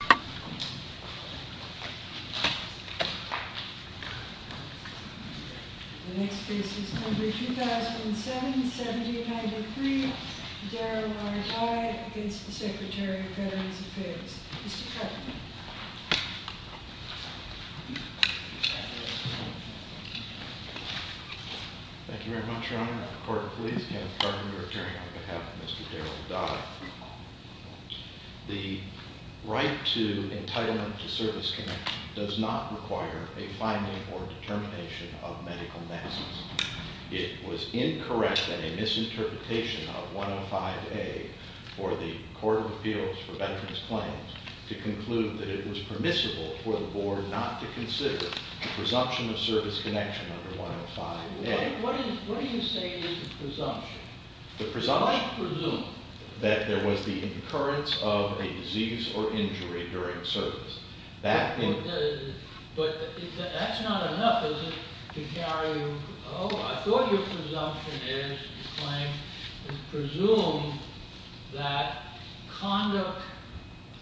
The next case is number 2007, 1793. Darryl R. Dye against the Secretary of Veterans Affairs. Mr. Trevenant. Thank you very much, Your Honor. Court, please. Kenneth Trevenant, appearing on behalf of Mr. Darryl Dye. The right to entitlement to service connection does not require a finding or determination of medical negligence. It was incorrect and a misinterpretation of 105A for the Court of Appeals for Veterans Claims to conclude that it was permissible for the Board not to consider the presumption of service connection under 105A. What do you say is the presumption? I presume. That there was the occurrence of a disease or injury during service. But that's not enough, is it? To carry, oh, I thought your presumption is, you claimed, is presumed that conduct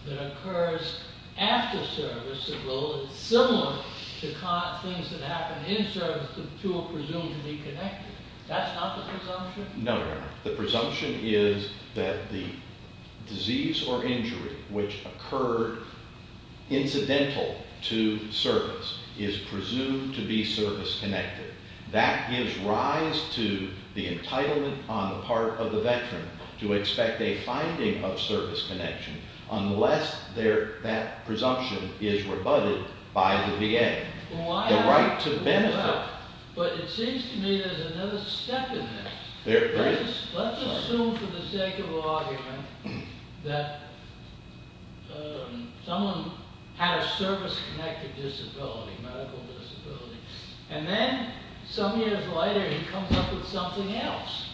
that occurs after service, although it's similar to things that happen in service, the two are presumed to be connected. That's not the presumption? No, Your Honor. The presumption is that the disease or injury which occurred incidental to service is presumed to be service connected. That gives rise to the entitlement on the part of the veteran to expect a finding of service connection unless that presumption is rebutted by the VA. The right to benefit. But it seems to me there's another step in this. Let's assume for the sake of argument that someone had a service-connected disability, medical disability, and then some years later he comes up with something else.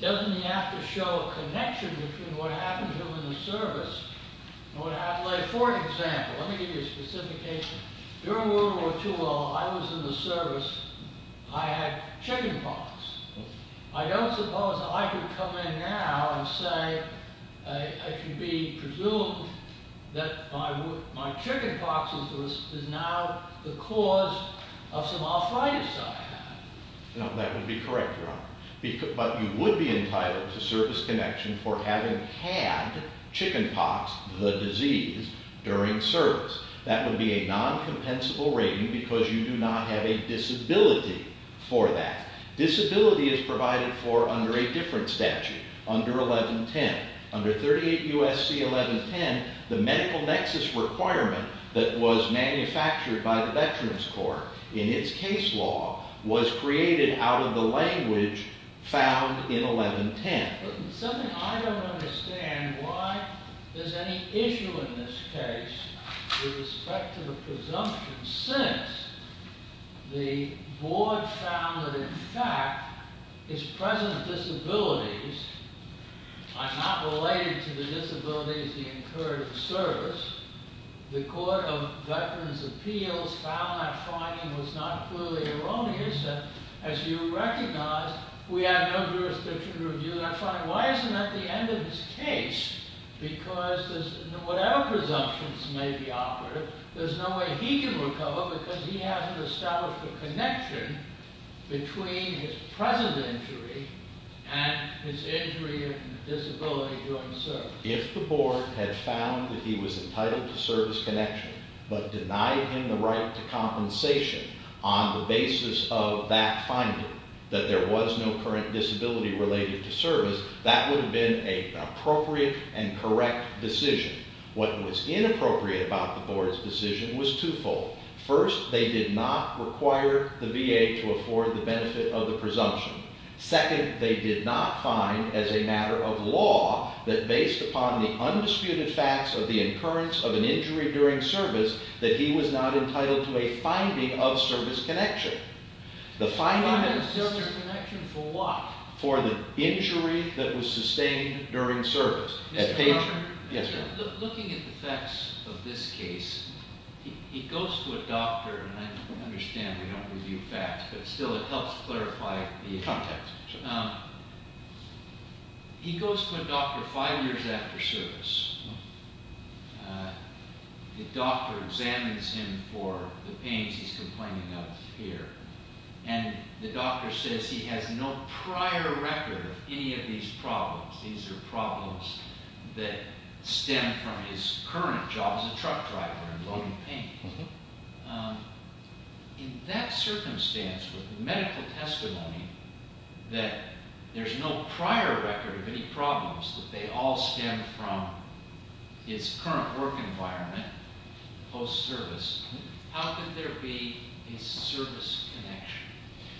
Doesn't he have to show a connection between what happened to him in the service? For example, let me give you a specification. During World War II, while I was in the service, I had chickenpox. I don't suppose I could come in now and say, I can be presumed that my chickenpox is now the cause of some arthritis I have. No, that would be correct, Your Honor. But you would be entitled to service connection for having had chickenpox, the disease, during service. That would be a non-compensable rating because you do not have a disability for that. Disability is provided for under a different statute, under 1110. Under 38 U.S.C. 1110, the medical nexus requirement that was manufactured by the Veterans Court in its case law was created out of the language found in 1110. Something I don't understand, why there's any issue in this case with respect to the presumption since the board found that in fact his present disabilities, I'm not related to the disabilities he incurred in the service, the Court of Veterans Appeals found that finding was not clearly erroneous. As you recognize, we have no jurisdiction to review that finding. Why isn't that the end of his case? Because whatever presumptions may be offered, there's no way he can recover because he hasn't established a connection between his present injury and his injury and disability during service. If the board had found that he was entitled to service connection but denied him the right to compensation on the basis of that finding, that there was no current disability related to service, that would have been an appropriate and correct decision. What was inappropriate about the board's decision was twofold. First, they did not require the VA to afford the benefit of the presumption. Second, they did not find, as a matter of law, that based upon the undisputed facts of the occurrence of an injury during service that he was not entitled to a finding of service connection. Finding of service connection for what? For the injury that was sustained during service. Looking at the facts of this case, he goes to a doctor, and I understand we don't review facts, but still it helps clarify the context. He goes to a doctor five years after service. The doctor examines him for the pains he's complaining of here, and the doctor says he has no prior record of any of these problems. These are problems that stem from his current job as a truck driver and loading paint. In that circumstance with the medical testimony that there's no prior record of any problems, that they all stem from his current work environment post-service, how could there be a service connection?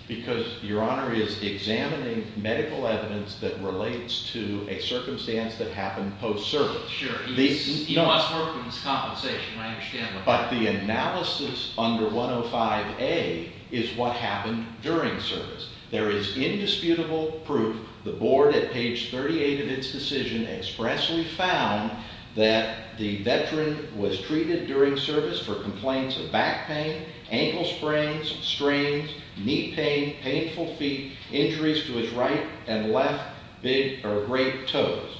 Because Your Honor is examining medical evidence that relates to a circumstance that happened post-service. Sure. He must work for his compensation. I understand that. But the analysis under 105A is what happened during service. There is indisputable proof. The board at page 38 of its decision expressly found that the veteran was treated during service for complaints of back pain, ankle sprains, strains, knee pain, painful feet, injuries to his right and left big or great toes,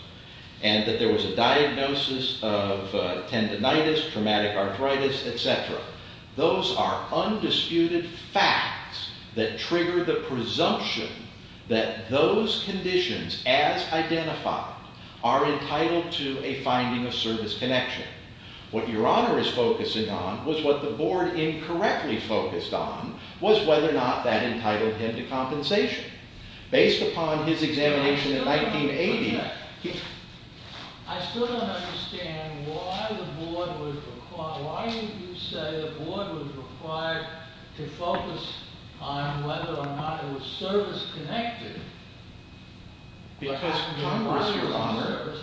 and that there was a diagnosis of tendinitis, traumatic arthritis, etc. Those are undisputed facts that trigger the presumption that those conditions as identified are entitled to a finding of service connection. What Your Honor is focusing on was what the board incorrectly focused on based upon his examination in 1980. I still don't understand why you say the board was required to focus on whether or not it was service connected. Because Congress, Your Honor,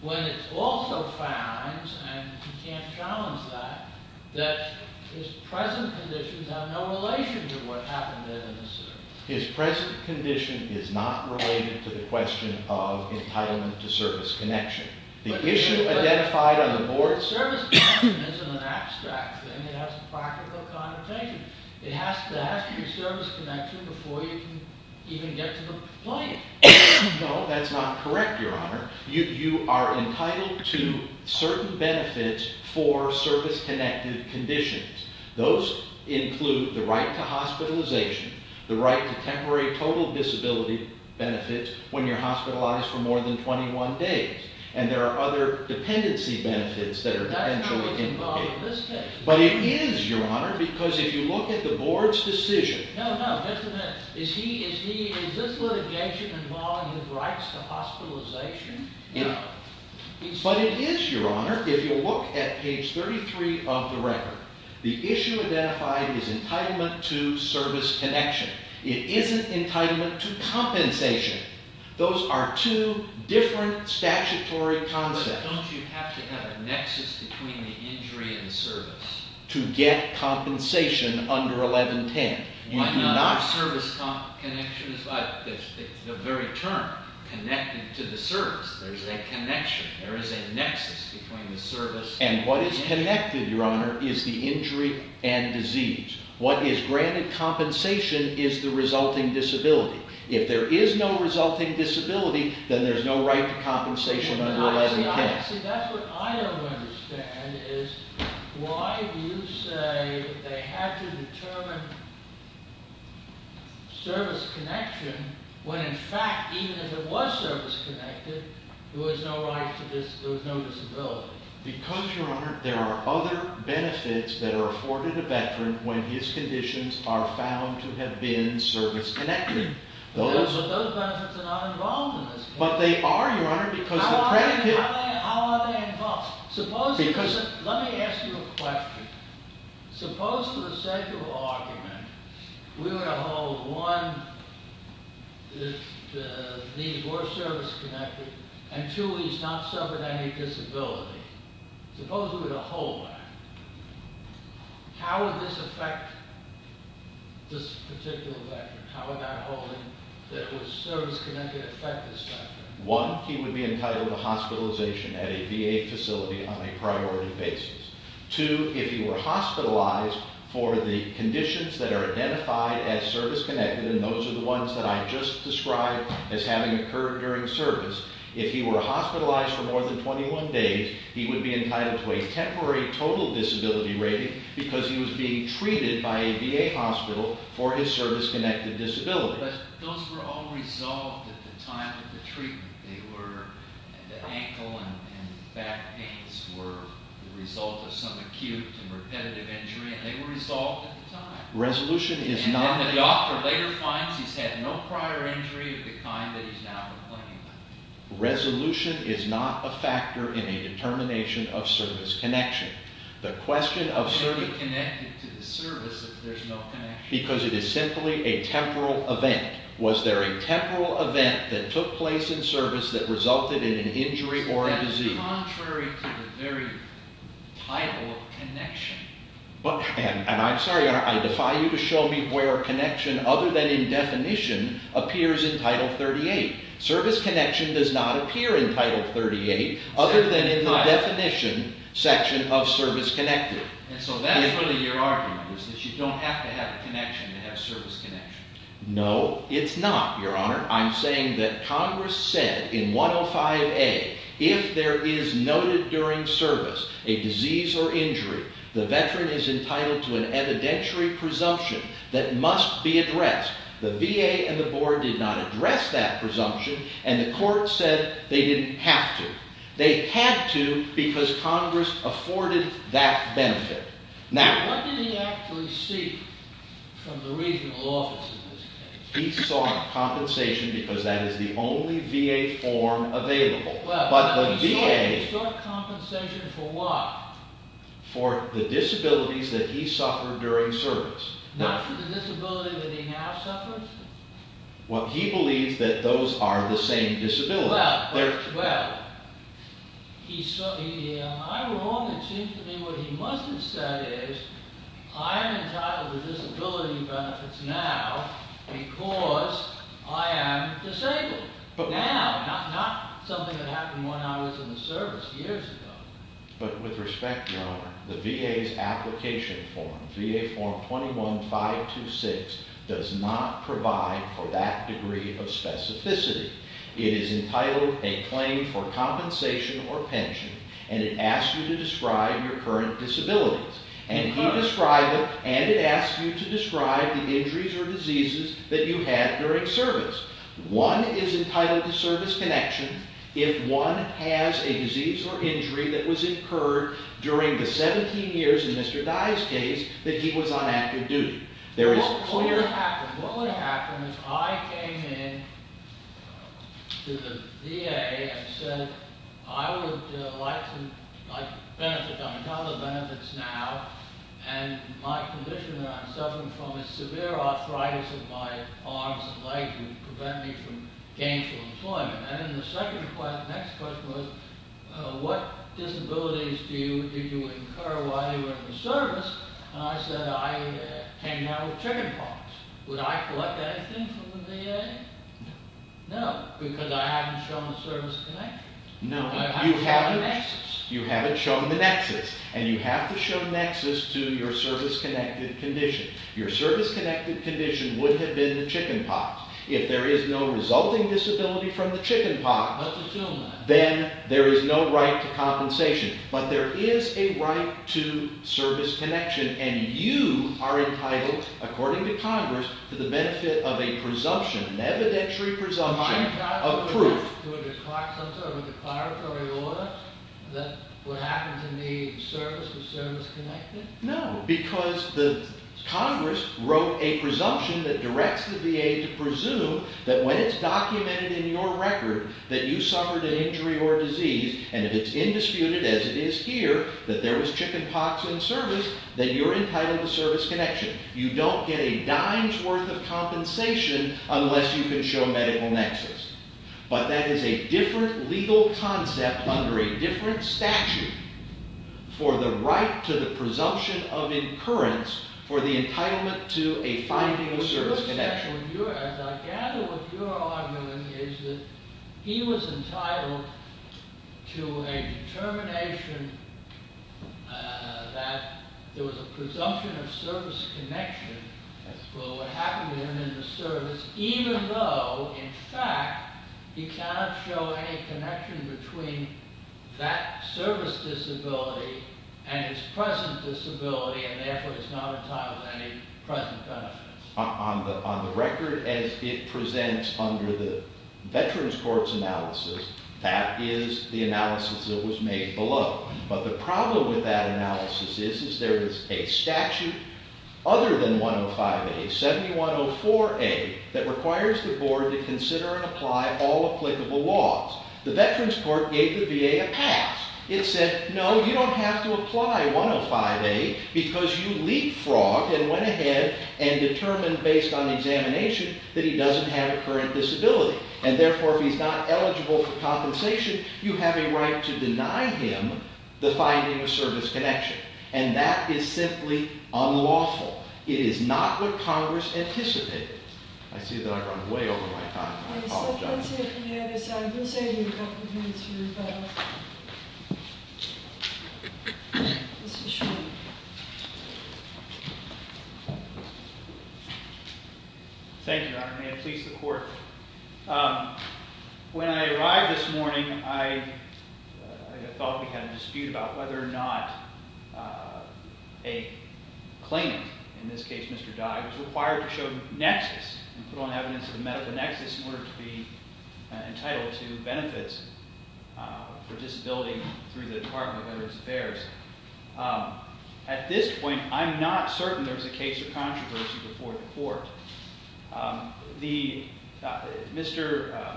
when it also finds, and you can't challenge that, that his present conditions have no relation to what happened in the service. His present condition is not related to the question of entitlement to service connection. The issue identified on the board... Service connection isn't an abstract thing. It has a practical connotation. It has to ask you service connection before you can even get to the point. No, that's not correct, Your Honor. You are entitled to certain benefits for service connected conditions. Those include the right to hospitalization, the right to temporary total disability benefits when you're hospitalized for more than 21 days. And there are other dependency benefits that are potentially indicated. That's not what's involved in this case. But it is, Your Honor, because if you look at the board's decision... No, no, just a minute. Is this litigation involving his rights to hospitalization? No. But it is, Your Honor, if you look at page 33 of the record. The issue identified is entitlement to service connection. It isn't entitlement to compensation. Those are two different statutory concepts. But don't you have to have a nexus between the injury and service? To get compensation under 1110. Why not service connection? It's the very term, connected to the service. There's a connection. There is a nexus between the service... And what is connected, Your Honor, is the injury and disease. What is granted compensation is the resulting disability. If there is no resulting disability, then there's no right to compensation under 1110. See, that's what I don't understand is why do you say they had to determine service connection when in fact, even if it was service connected, there was no right to disability, there was no disability. Because, Your Honor, there are other benefits that are afforded a veteran when his conditions are found to have been service connected. But those benefits are not involved in this case. But they are, Your Honor, because the predicate... How are they involved? Suppose... Let me ask you a question. Suppose, for the secular argument, we were to hold, one, the need for service connected, and two, he's not suffering any disability. Suppose we were to hold that. How would this affect this particular veteran? How would that hold him? Would service connected affect this veteran? One, he would be entitled to hospitalization at a VA facility on a priority basis. Two, if he were hospitalized for the conditions that are identified as service connected, and those are the ones that I just described as having occurred during service, if he were hospitalized for more than 21 days, he would be entitled to a temporary total disability rating because he was being treated by a VA hospital for his service connected disability. But those were all resolved at the time of the treatment. The ankle and back pains were the result of some acute and repetitive injury, and they were resolved at the time. Resolution is not... Resolution is not a factor in a determination of service connection. The question of service... Why be connected to the service if there's no connection? Because it is simply a temporal event. Was there a temporal event that took place in service that resulted in an injury or a disease? That's contrary to the very title of connection. And I'm sorry, I defy you to show me where connection, other than in definition, appears in Title 38. Service connection does not appear in Title 38 other than in the definition section of service connected. And so that's really your argument, is that you don't have to have connection to have service connection. No, it's not, Your Honor. I'm saying that Congress said in 105A, if there is noted during service a disease or injury, the veteran is entitled to an evidentiary presumption that must be addressed. The VA and the board did not address that presumption, and the court said they didn't have to. They had to because Congress afforded that benefit. Now... What did he actually seek from the regional office in this case? He sought compensation because that is the only VA form available. But the VA... He sought compensation for what? For the disabilities that he suffered during service. Not for the disability that he now suffers? Well, he believes that those are the same disabilities. Well, I'm wrong. It seems to me what he must have said is, I am entitled to disability benefits now because I am disabled. Now, not something that happened when I was in the service years ago. But with respect, Your Honor, the VA's application form, VA form 21-526, does not provide for that degree of specificity. It is entitled a claim for compensation or pension, and it asks you to describe your current disabilities. And he described them, and it asks you to describe the injuries or diseases that you had during service. One is entitled to service connection if one has a disease or injury that was incurred during the 17 years in Mr. Dye's case that he was on active duty. What would happen if I came in to the VA and said, I would like to benefit. I'm entitled to benefits now, and my condition that I'm suffering from is severe arthritis of my arms and legs which prevent me from gainful employment. And then the next question was, what disabilities did you incur while you were in the service? And I said, I came out with chickenpox. Would I collect anything from the VA? No, because I haven't shown a service connection. No, you haven't shown the nexus, and you have to show nexus to your service-connected condition. Your service-connected condition would have been the chickenpox. If there is no resulting disability from the chickenpox, then there is no right to compensation. But there is a right to service connection, and you are entitled, according to Congress, to the benefit of a presumption, an evidentiary presumption of proof. I'm entitled to a declaratory order that would happen to me, service-to-service connected? No, because Congress wrote a presumption that directs the VA to presume that when it's documented in your record that you suffered an injury or disease, and it is indisputed, as it is here, that there was chickenpox in service, that you're entitled to service connection. You don't get a dime's worth of compensation unless you can show medical nexus. But that is a different legal concept under a different statute for the right to the presumption of incurrence for the entitlement to a finding of service connection. I gather what you're arguing is that he was entitled to a determination that there was a presumption of service connection for what happened to him in the service, even though, in fact, he cannot show any connection between that service disability and his present disability, and therefore he's not entitled to any present benefits. On the record as it presents under the Veterans Court's analysis, that is the analysis that was made below. But the problem with that analysis is there is a statute other than 105A, 7104A, that requires the board to consider and apply all applicable laws. The Veterans Court gave the VA a pass. It said, no, you don't have to apply 105A because you leapfrogged and went ahead and determined based on examination that he doesn't have a current disability. And therefore, if he's not eligible for compensation, you have a right to deny him the finding of service connection. And that is simply unlawful. It is not what Congress anticipated. Thank you, Your Honor. Let's hear from the other side. We'll save you a couple of minutes here. Mr. Schwartz. Thank you, Your Honor. May it please the Court. When I arrived this morning, I felt we had a dispute about whether or not a claimant, in this case Mr. Dye, was required to show nexus and put on evidence of medical nexus in order to be entitled to benefits for disability through the Department of Veterans Affairs. At this point, I'm not certain there was a case of controversy before the Court.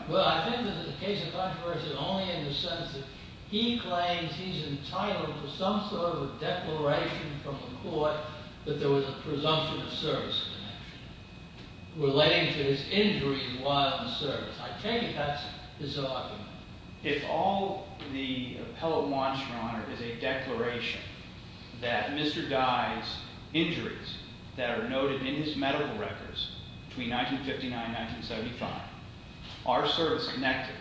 Well, I think that there's a case of controversy only in the sense that he claims he's entitled to some sort of a declaration from the Court that there was a presumption of service connection relating to his injury while in service. I take it that's his argument. If all the appellate wants, Your Honor, is a declaration that Mr. Dye's injuries that are noted in his medical records between 1959 and 1975 are service-connected,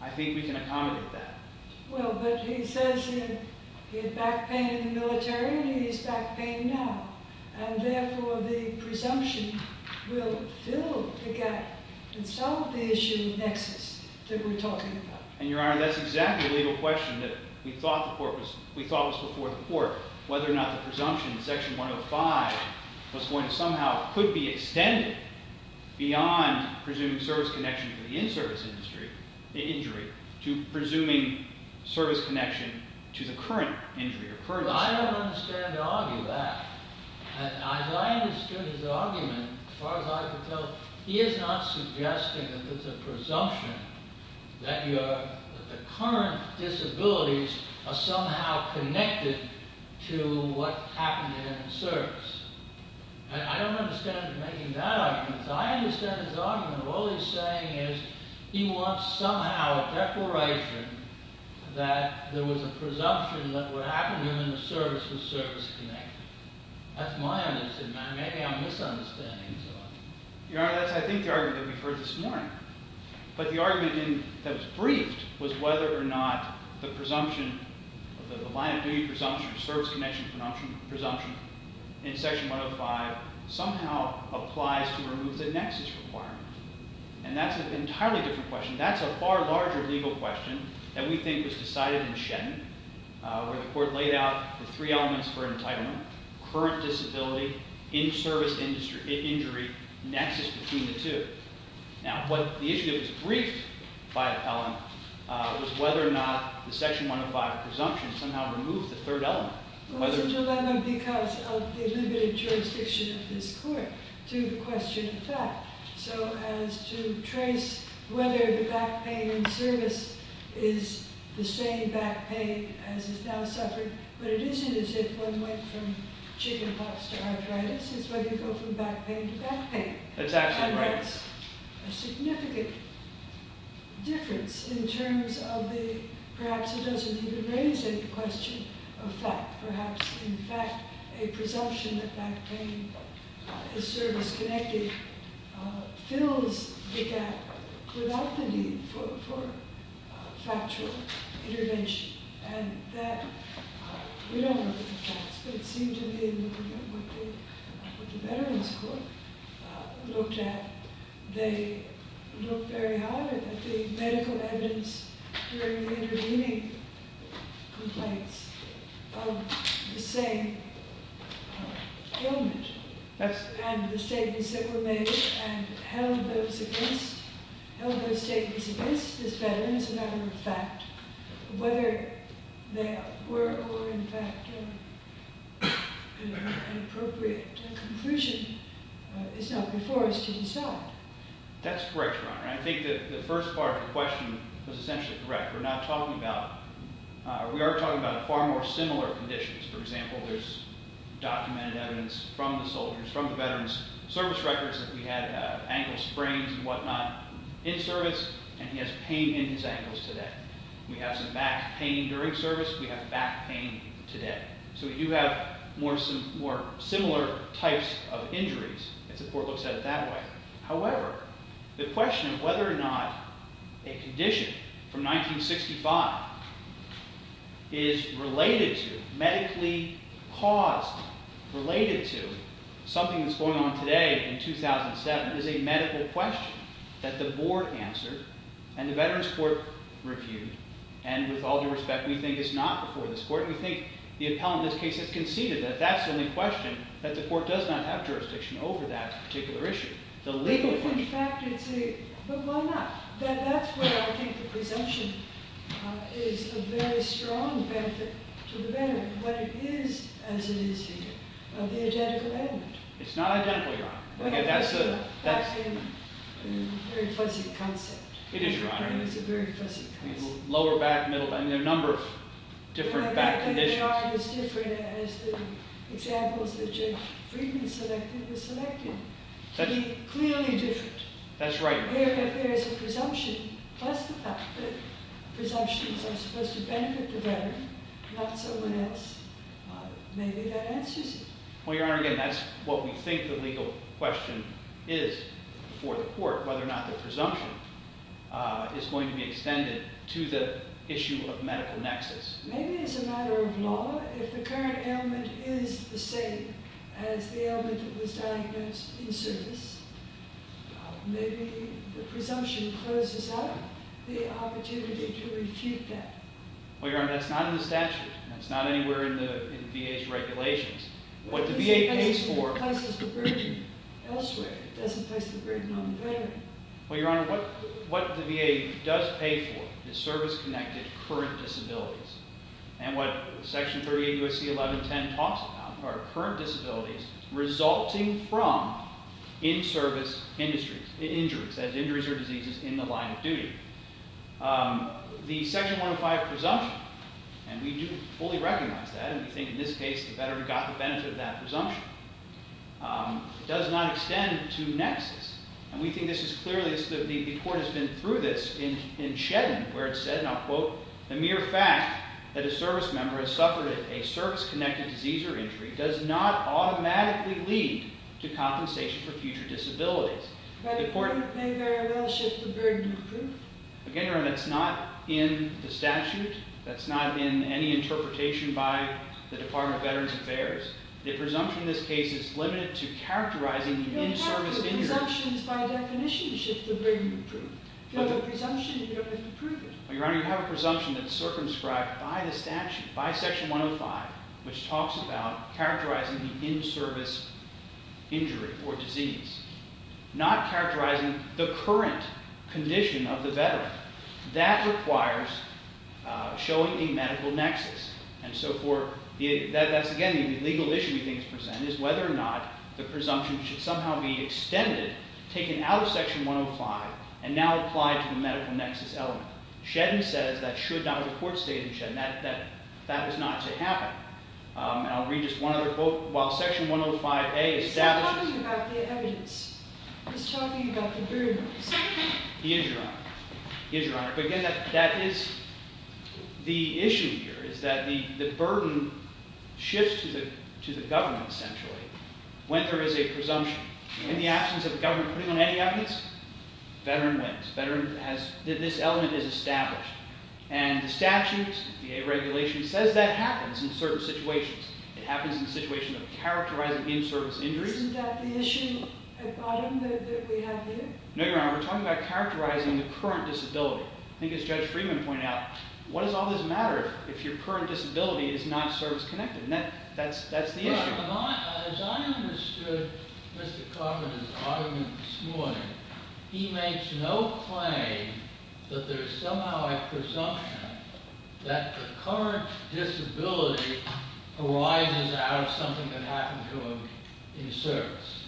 I think we can accommodate that. Well, but he says he had back pain in the military, and he has back pain now. And therefore, the presumption will fill the gap and solve the issue of nexus that we're talking about. And, Your Honor, that's exactly the legal question that we thought was before the Court, whether or not the presumption in Section 105 was going to somehow could be extended beyond presuming service connection for the in-service injury to presuming service connection to the current injury. Well, I don't understand to argue that. As I understood his argument, as far as I could tell, he is not suggesting that there's a presumption that the current disabilities are somehow connected to what happened to him in service. And I don't understand him making that argument. As I understand his argument, all he's saying is he wants somehow a declaration that there was a presumption that what happened to him in the service was service-connected. That's my understanding. Maybe I'm misunderstanding something. Your Honor, that's, I think, the argument that we've heard this morning. But the argument that was briefed was whether or not the presumption, the line-of-duty presumption, service connection presumption in Section 105 somehow applies to remove the nexus requirement. And that's an entirely different question. That's a far larger legal question that we think was decided in Shetland, where the court laid out the three elements for entitlement, current disability, in-service injury, nexus between the two. Now, the issue that was briefed by Appellant was whether or not the Section 105 presumption somehow removed the third element. It was a dilemma because of the limited jurisdiction of this court to the question of fact. So as to trace whether the back pain in service is the same back pain as is now suffering, but it isn't as if one went from chickenpox to arthritis. It's whether you go from back pain to back pain. That's absolutely right. A significant difference in terms of the perhaps it doesn't even raise any question of fact. Perhaps, in fact, a presumption that back pain is service-connected fills the gap without the need for factual intervention. We don't know the facts, but it seemed to me that what the Veterans Court looked at, they looked very hard at the medical evidence during the intervening complaints of the same ailment and the statements that were made and held those statements against this veteran as a matter of fact. Whether they were or were, in fact, an appropriate conclusion is not before us to decide. That's correct, Your Honor. I think that the first part of the question was essentially correct. We are talking about far more similar conditions. For example, there's documented evidence from the soldiers, from the veterans, service records that we had of ankle sprains and whatnot in service, and he has pain in his ankles today. We have some back pain during service. We have back pain today. So we do have more similar types of injuries if the court looks at it that way. However, the question of whether or not a condition from 1965 is related to, medically caused, related to something that's going on today in 2007 is a medical question that the board answered and the Veterans Court reviewed. And with all due respect, we think it's not before this court. We think the appellant in this case has conceded that that's the only question, that the court does not have jurisdiction over that particular issue. The legal question. But why not? That's where I think the presumption is a very strong benefit to the veteran, what it is as it is here of the identical ailment. It's not identical, Your Honor. That's a very fuzzy concept. It is, Your Honor. It's a very fuzzy concept. Lower back, middle back. I mean, there are a number of different back conditions. The back that they are is different as the examples that Jay Friedman selected was selected to be clearly different. That's right, Your Honor. If there is a presumption, plus the fact that presumptions are supposed to benefit the veteran, not someone else, maybe that answers it. Well, Your Honor, again, that's what we think the legal question is before the court, whether or not the presumption is going to be extended to the issue of medical nexus. Maybe it's a matter of law. If the current ailment is the same as the ailment that was diagnosed in service, maybe the presumption closes out the opportunity to refute that. Well, Your Honor, that's not in the statute. That's not anywhere in the VA's regulations. What the VA pays for. It doesn't place the burden elsewhere. It doesn't place the burden on the veteran. Well, Your Honor, what the VA does pay for is service-connected current disabilities. And what Section 38 U.S.C. 1110 talks about are current disabilities resulting from in-service injuries, as injuries or diseases in the line of duty. The Section 105 presumption, and we do fully recognize that, and we think in this case the veteran got the benefit of that presumption, does not extend to nexus. And we think this is clearly, the court has been through this in Shedden, where it said, and I'll quote, the mere fact that a service member has suffered a service-connected disease or injury does not automatically lead to compensation for future disabilities. But it may very well shift the burden of proof. Again, Your Honor, that's not in the statute. That's not in any interpretation by the Department of Veterans Affairs. The presumption in this case is limited to characterizing the in-service injury. You don't have the presumptions by definition to shift the burden of proof. If you have a presumption, you don't have to prove it. Well, Your Honor, you have a presumption that's circumscribed by the statute, by Section 105, which talks about characterizing the in-service injury or disease. Not characterizing the current condition of the veteran. That requires showing a medical nexus. And so that's, again, the legal issue we think is present, is whether or not the presumption should somehow be extended, taken out of Section 105, and now applied to the medical nexus element. Shedden says that should not, or the court stated in Shedden, that that was not to happen. And I'll read just one other quote. He's not talking about the evidence. He's talking about the burden. He is, Your Honor. He is, Your Honor. But, again, that is the issue here, is that the burden shifts to the government, essentially, when there is a presumption. In the absence of the government putting on any evidence, the veteran wins. This element is established. And the statute, the regulation, says that happens in certain situations. It happens in the situation of characterizing in-service injuries. Isn't that the issue at bottom that we have here? No, Your Honor. We're talking about characterizing the current disability. I think, as Judge Freeman pointed out, what does all this matter if your current disability is not service-connected? And that's the issue. As I understood Mr. Cartman's argument this morning, he makes no claim that there is somehow a presumption that the current disability arises out of something that happened to him in service.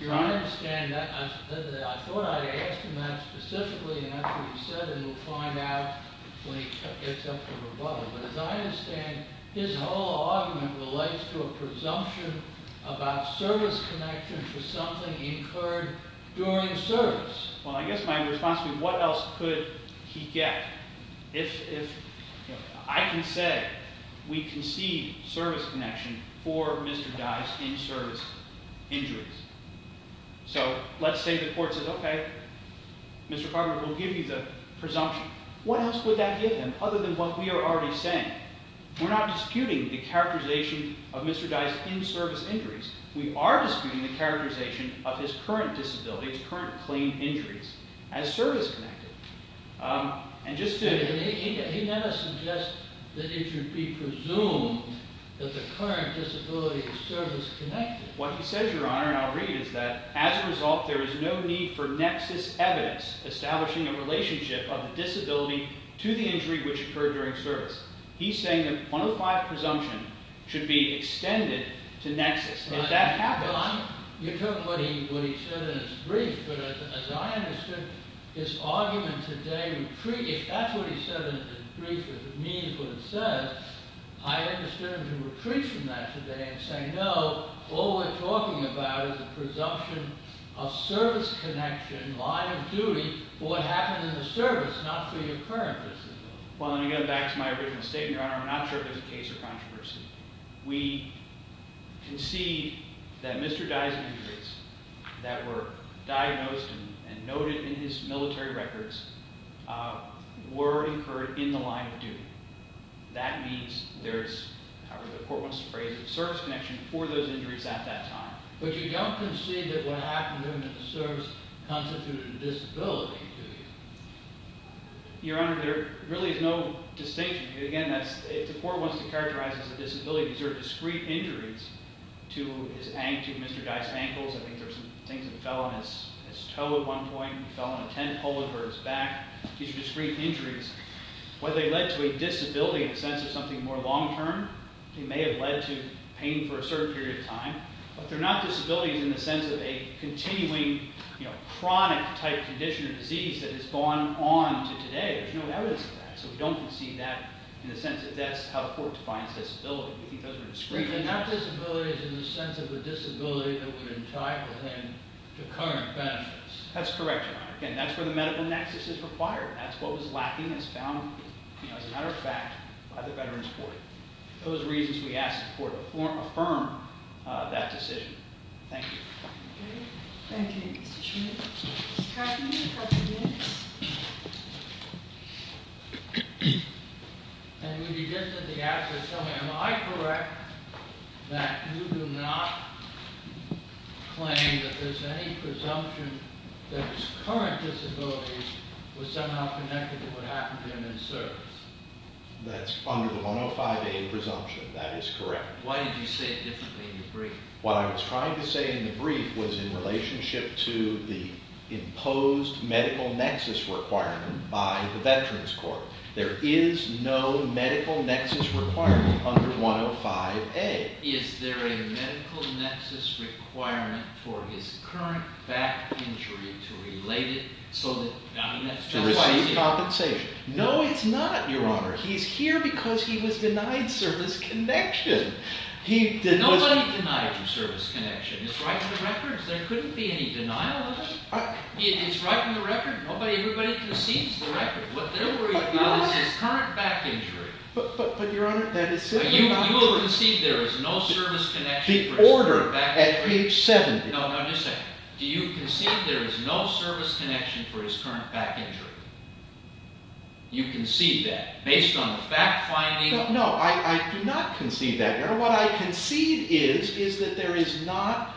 Your Honor? I thought I asked him that specifically, and after he said it, we'll find out when he gets up for rebuttal. But, as I understand, his whole argument relates to a presumption about service connection for something he incurred during service. Well, I guess my response would be, what else could he get? I can say we concede service connection for Mr. Dye's in-service injuries. So let's say the court says, okay, Mr. Cartman, we'll give you the presumption. What else would that give him other than what we are already saying? We're not disputing the characterization of Mr. Dye's in-service injuries. We are disputing the characterization of his current disability, his current claimed injuries, as service-connected. He never suggests that it should be presumed that the current disability is service-connected. What he says, Your Honor, and I'll read, is that, as a result, there is no need for nexus evidence establishing a relationship of the disability to the injury which occurred during service. He's saying that 105 presumption should be extended to nexus. If that happens... Your Honor, you took what he said in his brief, but as I understood, his argument today, if that's what he said in his brief, if it means what it says, I understood him to retreat from that today and say, no, all we're talking about is the presumption of service connection, line of duty, for what happened in the service, not for your current disability. Well, let me go back to my original statement, Your Honor. I'm not sure if there's a case or controversy. We concede that Mr. Dye's injuries that were diagnosed and noted in his military records were incurred in the line of duty. That means there's, however the court wants to phrase it, service connection for those injuries at that time. But you don't concede that what happened during the service constituted a disability, do you? Your Honor, there really is no distinction. Again, the court wants to characterize it as a disability. These are discrete injuries to Mr. Dye's ankles. I think there were some things that fell on his toe at one point. He fell on a tent pole over his back. These are discrete injuries. Whether they led to a disability in the sense of something more long-term, they may have led to pain for a certain period of time. But they're not disabilities in the sense of a continuing chronic-type condition or disease that has gone on to today. There's no evidence of that. So we don't concede that in the sense that that's how the court defines disability. We think those are discrete injuries. Not disabilities in the sense of a disability that would entitle him to current benefits. That's correct, Your Honor. Again, that's where the medical nexus is required. That's what was lacking as found, as a matter of fact, by the Veterans Court. Those are the reasons we ask the court to affirm that decision. Thank you. Thank you, Mr. Schmidt. Mr. Krupp, do you have a minute? And would you just at the outset tell me, am I correct that you do not claim that there's any presumption that his current disabilities were somehow connected to what happened to him in service? That's under the 105A presumption. That is correct. Why did you say it differently in the brief? What I was trying to say in the brief was in relationship to the imposed medical nexus requirement by the Veterans Court. There is no medical nexus requirement under 105A. Is there a medical nexus requirement for his current back injury to relate it to receive compensation? No, it's not, Your Honor. He's here because he was denied service connection. Nobody denied him service connection. It's right in the records. There couldn't be any denial of it. It's right in the record. Nobody, everybody concedes the record. What they're worried about is his current back injury. But, Your Honor, that is sitting out there. You will concede there is no service connection for his back injury? The order at page 70. No, no, just a second. Do you concede there is no service connection for his current back injury? You concede that based on the fact-finding? No, I do not concede that, Your Honor. What I concede is that there is not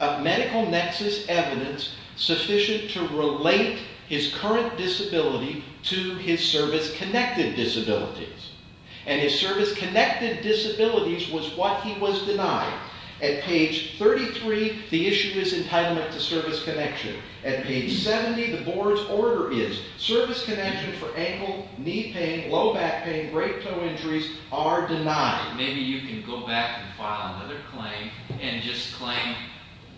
a medical nexus evidence sufficient to relate his current disability to his service-connected disabilities. And his service-connected disabilities was what he was denied. At page 33, the issue is entitlement to service connection. At page 70, the board's order is service connection for ankle, knee pain, low back pain, great toe injuries are denied. Maybe you can go back and file another claim and just claim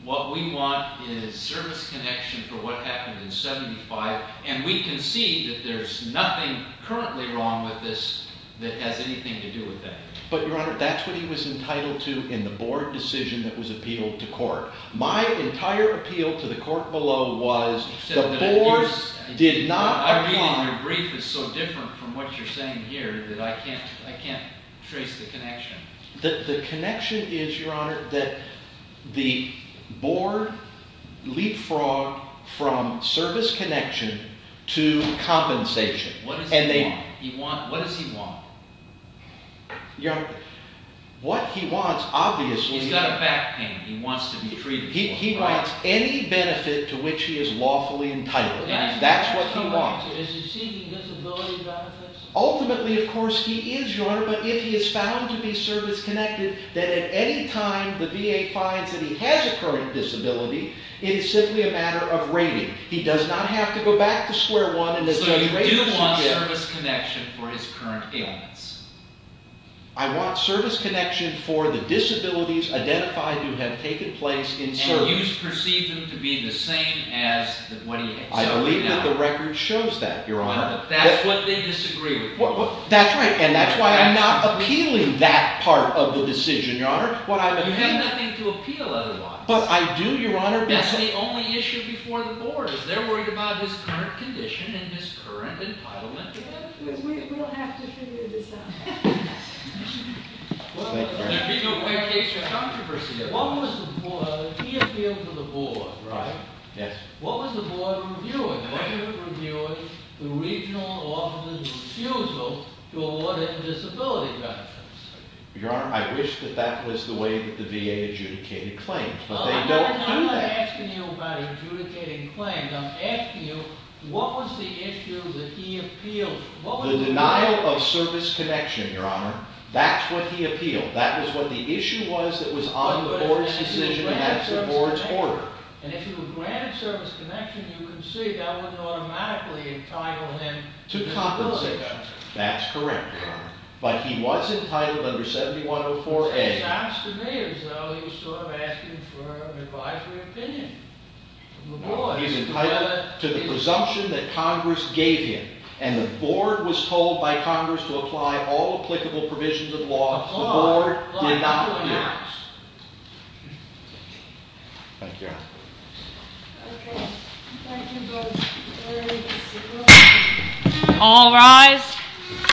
what we want is service connection for what happened in 75, and we concede that there's nothing currently wrong with this that has anything to do with that. But, Your Honor, that's what he was entitled to in the board decision that was appealed to court. My entire appeal to the court below was the board did not... Your brief is so different from what you're saying here that I can't trace the connection. The connection is, Your Honor, that the board leapfrogged from service connection to compensation. What does he want? What he wants, obviously... He's got a back pain. He wants to be treated. He wants any benefit to which he is lawfully entitled. That's what he wants. Ultimately, of course, he is, Your Honor, but if he is found to be service connected, then at any time the VA finds that he has a current disability, it is simply a matter of rating. He does not have to go back to square one... So you do want service connection for his current ailments? I want service connection for the disabilities identified who have taken place in service. Do you perceive them to be the same as what he has now? I believe that the record shows that, Your Honor. That's what they disagree with. That's right, and that's why I'm not appealing that part of the decision, Your Honor. You have nothing to appeal otherwise. But I do, Your Honor. That's the only issue before the board. They're worried about his current condition and his current entitlement. We'll have to figure this out. Thank you, Your Honor. He appealed to the board, right? Yes. What was the board reviewing? Was it reviewing the regional office's refusal to award him disability benefits? Your Honor, I wish that that was the way that the VA adjudicated claims, but they don't do that. I'm not asking you about adjudicating claims. I'm asking you, what was the issue that he appealed to? The denial of service connection, Your Honor. That's what he appealed. That was what the issue was that was on the board's decision and that's the board's order. And if he were granted service connection, you can see that would automatically entitle him to compensation. That's correct, Your Honor. But he was entitled under 7104A. It sounds to me as though he was sort of asking for an advisory opinion. He's entitled to the presumption that Congress gave him, and the board was told by Congress to apply all applicable provisions of law. The board did not agree. Thank you, Your Honor. All rise.